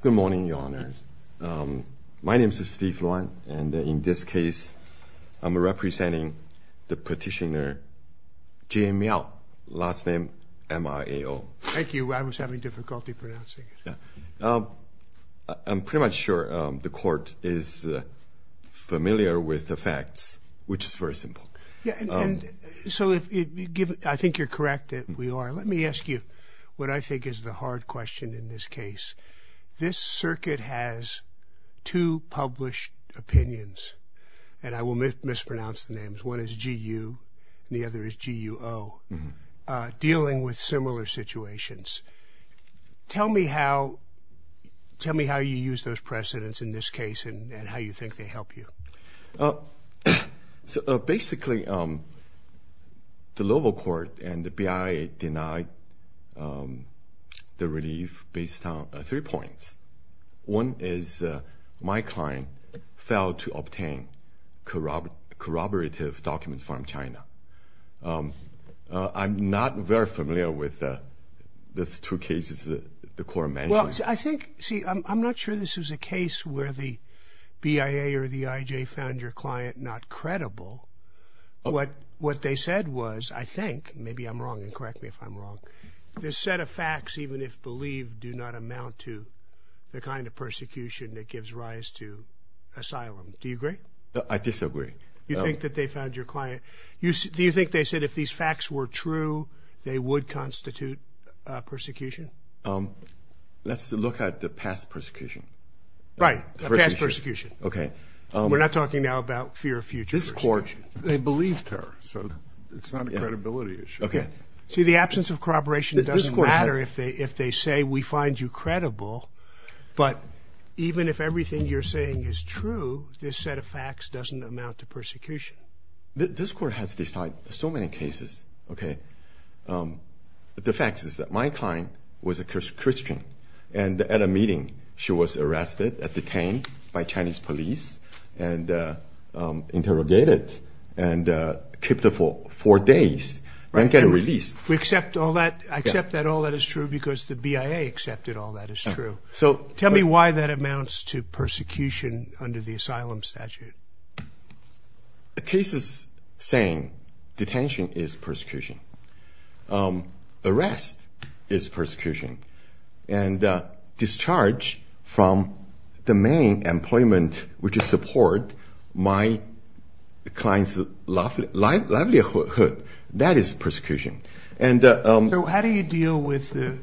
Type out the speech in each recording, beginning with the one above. Good morning, Your Honor. My name is Steve Luan, and in this case, I'm representing the petitioner, Jian Miao, last name M-I-A-O. Thank you, I was having difficulty pronouncing it. I'm pretty much sure the court is familiar with the facts, which is very simple. Yeah, so I think you're correct that we are. Let me ask you what I think is the hard question in this case. This circuit has two published opinions, and I will mispronounce the names. One is G-U, the other is G-U-O, dealing with similar situations. Tell me how you use those precedents in this case, and how you think they help you. So basically, the relief is based on three points. One is my client failed to obtain corroborative documents from China. I'm not very familiar with the two cases that the court mentioned. Well, I think, see, I'm not sure this is a case where the BIA or the IJ found your client not credible. What they said was, I think, maybe I'm wrong. This set of facts, even if believed, do not amount to the kind of persecution that gives rise to asylum. Do you agree? I disagree. You think that they found your client... Do you think they said if these facts were true, they would constitute persecution? Let's look at the past persecution. Right, the past persecution. Okay. We're not talking now about fear of future persecution. This court, they absence of corroboration, it doesn't matter if they say we find you credible, but even if everything you're saying is true, this set of facts doesn't amount to persecution. This court has decided so many cases, okay. The fact is that my client was a Christian, and at a meeting, she was arrested, detained by Chinese police, and interrogated, and kept for four days, and got released. We accept all that. I accept that all that is true, because the BIA accepted all that is true. So tell me why that amounts to persecution under the asylum statute. The case is saying detention is persecution. Arrest is persecution, and discharge from the main employment, which is support my client's livelihood, that is persecution. So how do you deal with the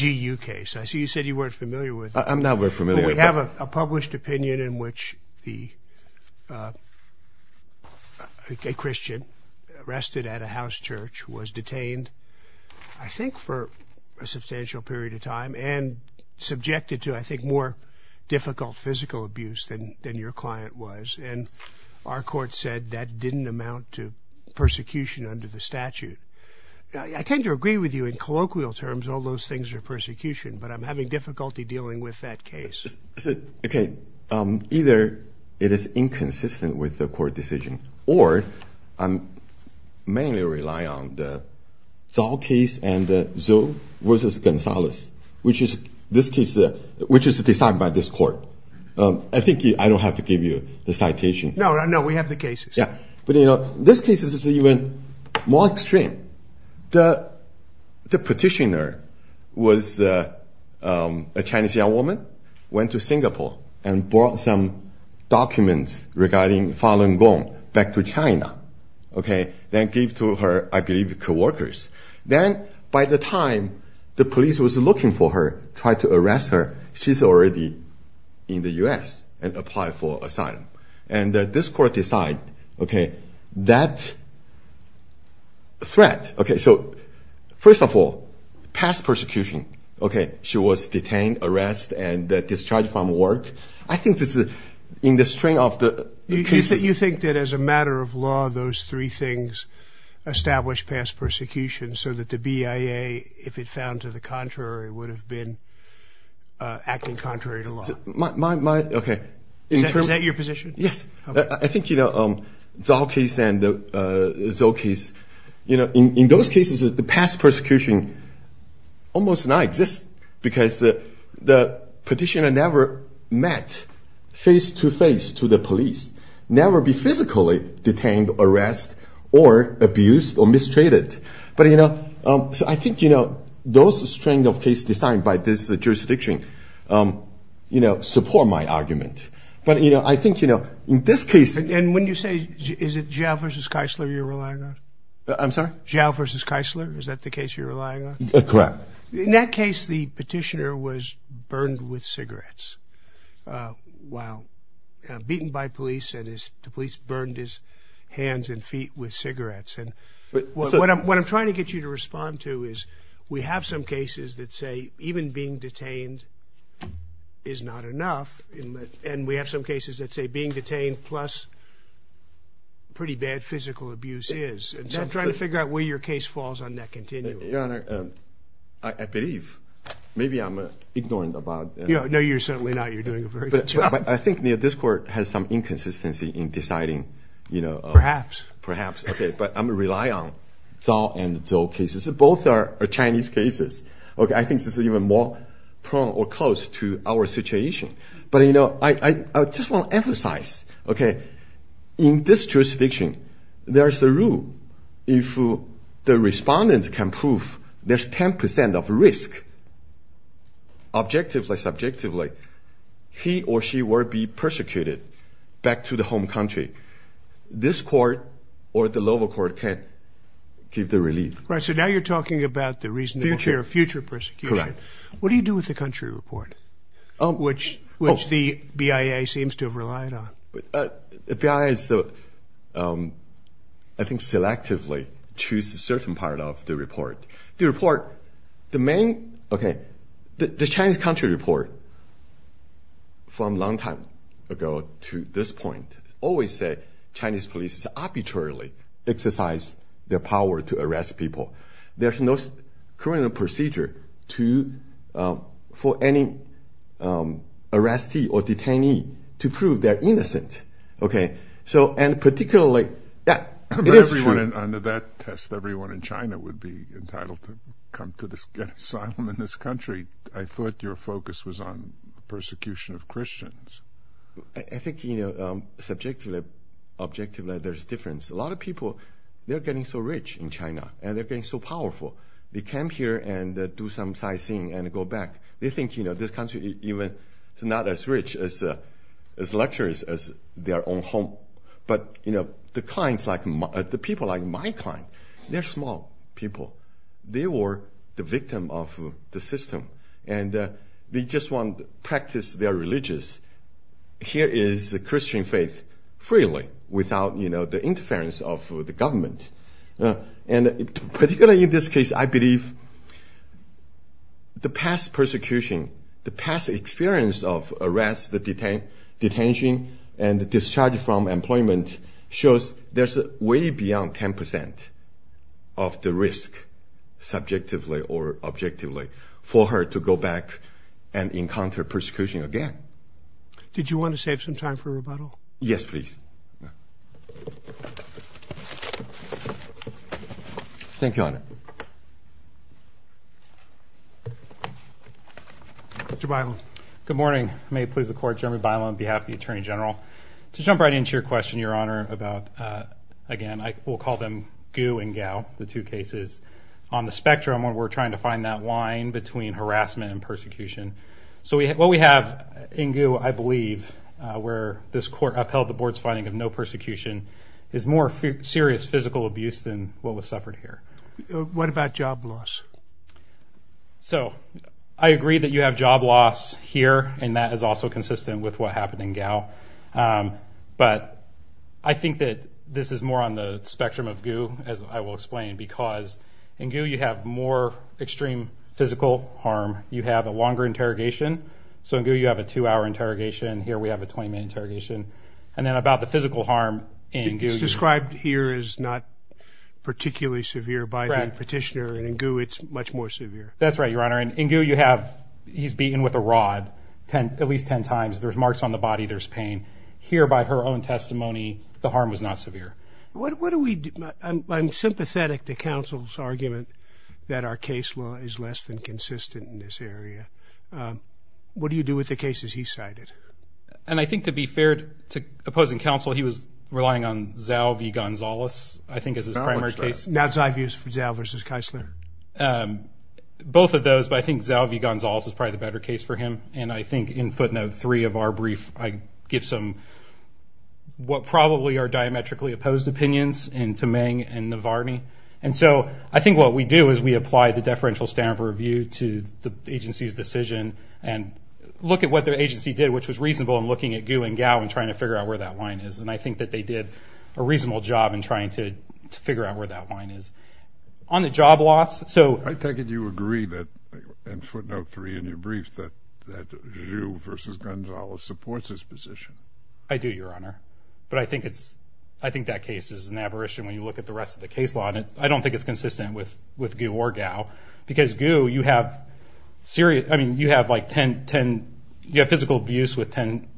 GU case? I see you said you weren't familiar with it. I'm not very familiar. We have a published opinion in which the Christian arrested at a house church was detained, I think for a substantial period of time, and subjected to, I think, more difficult physical abuse than your client was, and our court said that didn't amount to persecution under the statute. I tend to agree with you in colloquial terms, all those things are persecution, but I'm having difficulty dealing with that case. Okay, either it is inconsistent with the court decision, or I mainly rely on the Zao case and the Zou versus Gonzalez, which is this case, which is decided by this court. I think I don't have to give you the citation. No, no, we have the cases. Yeah, but you know, this case is even more extreme. The petitioner was a Chinese young woman, went to Singapore, and brought some documents regarding Falun Gong back to China, okay, then gave to her, I believe, co-workers. Then by the time the police was looking for her, tried to arrest her, she's already in the U.S. and applied for asylum, and this court decided, okay, that threat, okay, so first of all, past persecution, okay, she was detained, arrested, and discharged from work. I think this is in the strength of the... You think that as a matter of law, those three things establish past persecution, so that the BIA, if it found to the contrary, would have been acting contrary to law. Okay. Is that your position? Yes, I think, you know, the Zao case and the Zou case, you know, in those cases, the past persecution almost does not exist, because the petitioner never met face-to-face to the police, never be physically detained, arrested, or abused, or mistreated. But, you know, I think, you know, those strength of case designed by this jurisdiction, you know, support my argument. But, you know, I think, you know, in this case... And when you say, is it Zao versus Keisler you're relying on? I'm sorry? Zao versus Keisler, is that the case you're relying on? Correct. In that case, the petitioner was burned with cigarettes, while beaten by police, and the police burned his hands and feet with cigarettes. And what I'm trying to get you to respond to is, we have some cases that say even being detained is not enough, and we have some cases that say being detained plus pretty bad physical abuse is. And so I'm trying to figure out where your case falls on that continuum. Your Honor, I believe, maybe I'm ignorant about... No, you're certainly not. I think this Court has some inconsistency in deciding, you know... Perhaps. Perhaps. Okay, but I'm relying on Zao and Zou cases. Both are Chinese cases. Okay, I think this is even more prone or close to our situation. But, you know, I just want to emphasize, okay, in this jurisdiction, there's a rule. If the respondent can prove there's 10% of risk, objectively, subjectively, he or she will be persecuted back to the home country. This Court or the lower court can't give the relief. Right, so now you're talking about the reasonable fear of future persecution. Correct. What do you do with the country report, which the BIA seems to have relied on? The BIA, I think, selectively choose a certain part of the report. The report, the main... Okay, the Chinese country report from a long time ago to this point, always said Chinese police arbitrarily exercise their power to arrest people. There's no criminal procedure for any arrestee or detainee to prove they're innocent. Okay, so and particularly... Yeah, it is true. Under that test, everyone in China would be entitled to come to this asylum in this country. I thought your focus was on persecution of Christians. I think, you know, subjectively, objectively, there's difference. A lot of people, they're getting so rich in China and they're getting so powerful. They come here and do some sightseeing and go back. They think, you know, this country even it's not as rich as lecturers as their own home. But, you know, the clients like, the people like my client, they're small people. They were the victim of the system and they just want to practice their religious. Here is the Christian faith freely without, you know, the interference of the government. And particularly in this case, I believe the past persecution, the past experience of arrests, the detention and discharge from employment shows there's a way beyond 10% of the risk, subjectively or objectively, for her to go back and encounter persecution again. Did you want to save some time for a rebuttal? Yes, Thank you, Your Honor. Mr. Bailon. Good morning. May it please the Court, Jeremy Bailon on behalf of the Attorney General. To jump right into your question, Your Honor, about, again, I will call them goo and gal. The two cases on the spectrum when we're trying to find that line between harassment and persecution. So what we have in you, I believe, where this court upheld the board's finding of no persecution is more serious physical abuse than what was suffered here. What about job loss? So I agree that you have job loss here, and that is also consistent with what spectrum of goo, as I will explain. Because in goo, you have more extreme physical harm. You have a longer interrogation. So in goo, you have a two hour interrogation. Here we have a 20 minute interrogation. And then about the physical harm described here is not particularly severe by the petitioner. And in goo, it's much more severe. That's right, Your Honor. In goo, you have. He's beaten with a rod at least 10 times. There's marks on the body. There's pain here. By her own testimony, the harm was not severe. What do we do? I'm sympathetic to counsel's argument that our case law is less than consistent in this area. Um, what do you do with the cases he cited? And I think, to be fair to opposing counsel, he was relying on Zalvi Gonzalez, I think, is his primary case. Now, Zalvi is for Zal versus Keisler. Um, both of those. But I think Zalvi Gonzalez is probably the better case for him. And I give some, what probably are diametrically opposed opinions in to Meng and Navarney. And so I think what we do is we apply the deferential standard of review to the agency's decision and look at what their agency did, which was reasonable in looking at goo and gow and trying to figure out where that line is. And I think that they did a reasonable job in trying to figure out where that line is. On the job loss. So I take it you agree that in footnote three in your brief that that Zhu versus Gonzalez supports this position? I do, Your Honor. But I think it's I think that case is an aberration when you look at the rest of the case law. And I don't think it's consistent with with goo or gow because goo you have serious. I mean, you have like 10 10. You have physical abuse with 10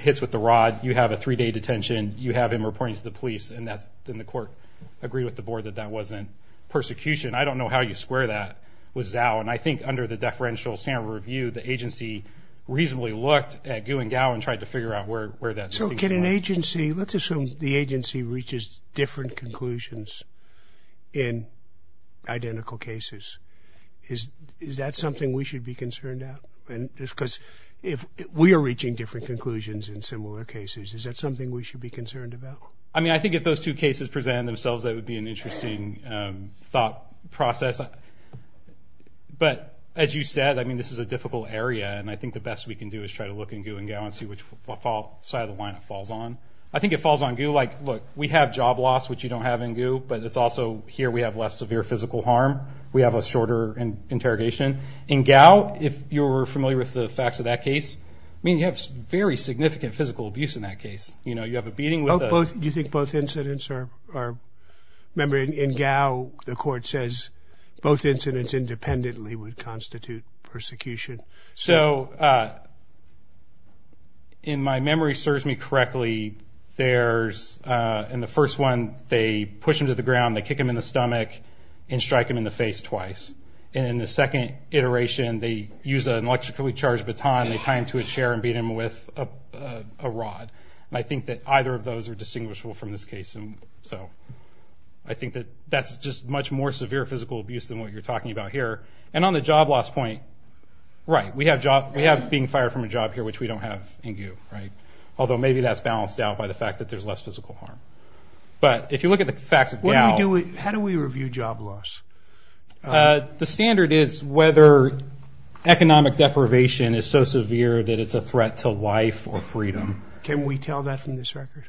hits with the rod. You have a three day detention. You have him reporting to the police. And that's in the court agree with the board that that wasn't persecution. I don't know how you square that was out. And I think under the deferential standard review, the agency reasonably looked at goo and gow and tried to figure out where where that so can an agency. Let's assume the agency reaches different conclusions in identical cases. Is is that something we should be concerned about? And just because if we're reaching different conclusions in similar cases, is that something we should be concerned about? I mean, I think if those two cases present themselves, that would be an difficult area. And I think the best we can do is try to look and go and go and see which fault side of the line it falls on. I think it falls on you. Like, look, we have job loss, which you don't have in goo. But it's also here we have less severe physical harm. We have a shorter interrogation in gow. If you're familiar with the facts of that case, I mean, you have very significant physical abuse in that case. You know, you have a beating with both. Do you think both incidents are are remembering in gow? The court says both incidents independently would constitute persecution. So, uh, in my memory serves me correctly. There's in the first one, they push him to the ground. They kick him in the stomach and strike him in the face twice. And in the second iteration, they use an electrically charged baton. They time to a chair and beat him with a rod. I think that either of those are distinguishable from this case. And so I think that that's just much more severe physical abuse than what you're talking about here. And on the job loss point, right, we have job. We have being fired from a job here, which we don't have in goo, right? Although maybe that's balanced out by the fact that there's less physical harm. But if you look at the facts of gow, how do we review job loss? The standard is whether economic deprivation is so severe that it's a threat to life or freedom. Can we tell that from this record?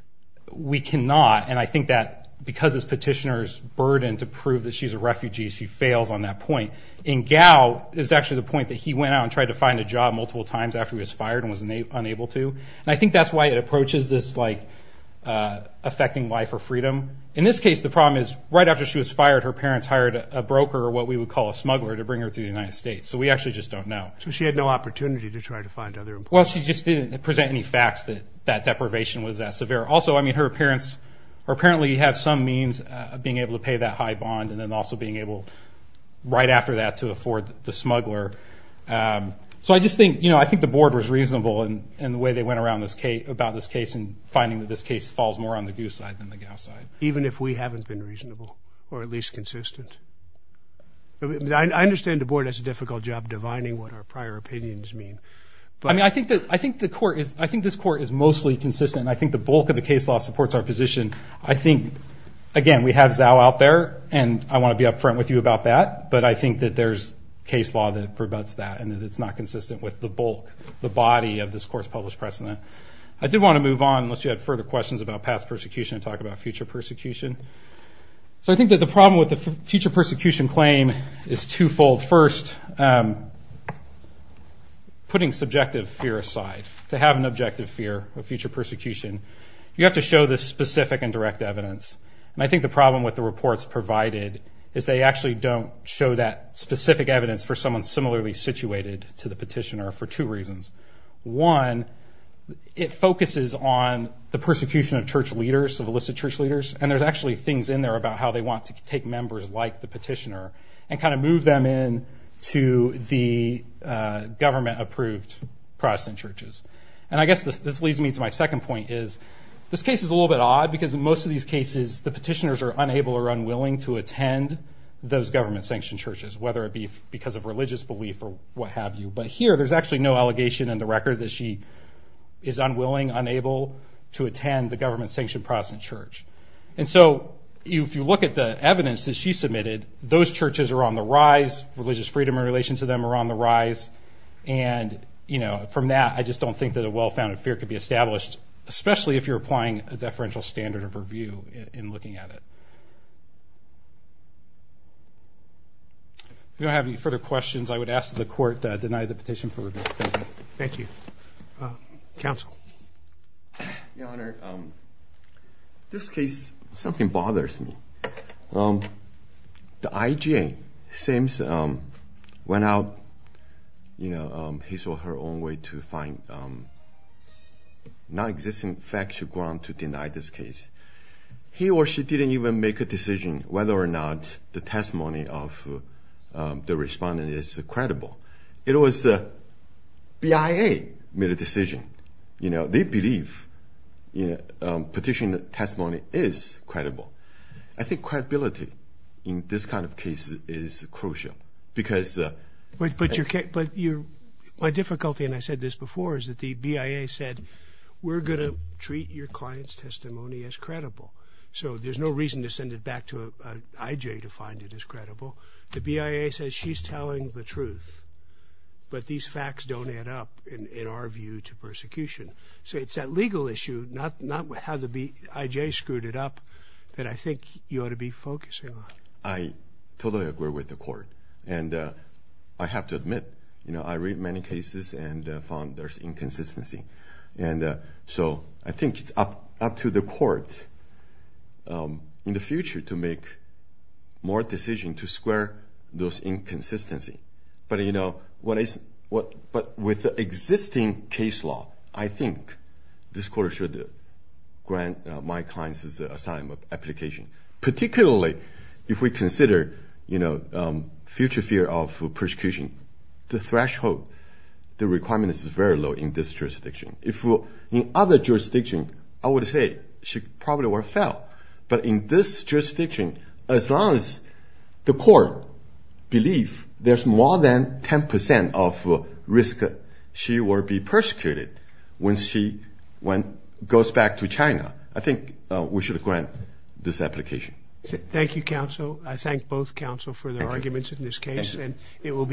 We cannot. And I think that because this petitioner's burden to prove that she's a refugee, she fails on that point. And gow is actually the point that he went out and tried to find a job multiple times after he was fired and was unable to. And I think that's why it approaches this affecting life or freedom. In this case, the problem is right after she was fired, her parents hired a broker, or what we would call a smuggler, to bring her to the United States. So we actually just don't know. So she had no opportunity to try to find other employers? Well, she just didn't present any facts that that deprivation was that severe. Also, I mean, her parents apparently have some means of being able to pay that high bond, and then also being able right after that to afford the smuggler. So I just think the board was reasonable in the way they went around this case, about this case, and finding that this case falls more on the goo side than the gow side. Even if we haven't been reasonable, or at least consistent? I understand the board has a difficult job divining what our prior opinions mean, but... I mean, I think the court is... I think this court is mostly consistent. I think the bulk of the case law supports our position. I think, again, we have Zao out there, and I wanna be upfront with you about that, but I think that there's case law that prevents that, and that it's not consistent with the bulk, the body of this court's published precedent. I do wanna move on, unless you have further questions about past persecution, and talk about future persecution. So I think that the problem with the future persecution claim is two fold. First, putting subjective fear aside, to have an objective fear of future persecution, you have to show the specific and direct evidence. And I think the problem with the reports provided is they actually don't show that specific evidence for someone similarly situated to the petitioner for two reasons. One, it focuses on the persecution of church leaders, of elicit church leaders, and there's actually things in there about how they want to take members like the petitioner, and move them in to the government approved Protestant churches. And I guess this leads me to my second point, which is, this case is a little bit odd, because in most of these cases, the petitioners are unable or unwilling to attend those government sanctioned churches, whether it be because of religious belief or what have you. But here, there's actually no allegation in the record that she is unwilling, unable to attend the government sanctioned Protestant church. And so, if you look at the evidence that she submitted, those churches are on the rise, religious freedom in relation to them are on the rise, and from that, I just don't think that a well founded fear could be established, especially if you're applying a deferential standard of review in looking at it. If you don't have any further questions, I would ask that the court deny the petition for review. Thank you. Thank you. Counsel. Your Honor, this case, something bothers me. The IGA, it seems, went out, he saw her own way to find non-existing facts to go on to deny this case. He or she didn't even make a decision whether or not the testimony of the respondent is credible. It was the BIA made a decision. They believe petition testimony is credible. I think credibility in this kind of case is crucial because... But my difficulty, and I said this before, is that the BIA said, We're gonna treat your client's testimony as credible. So there's no reason to send it back to an IJ to find it as credible. The BIA says she's telling the truth, but these facts don't add up in our view to persecution. So it's that legal issue, not how the IJ screwed it up, that I think you ought to be focusing on. I totally agree with the court. And I have to admit, I read many cases and found there's inconsistency. And so I think it's up to the court in the future to make more decision to square those inconsistency. But with the existing case law, I think this court should grant my client's asylum application. Particularly, if we consider future fear of persecution, the threshold, the requirement is very low in this jurisdiction. If in other jurisdictions, I would say she probably would fail. But in this jurisdiction, as long as the court believe there's more than 10% of risk she will be persecuted when she goes back to China, I think we should grant this application. Thank you, counsel. I thank both counsel for their arguments in this case, and it will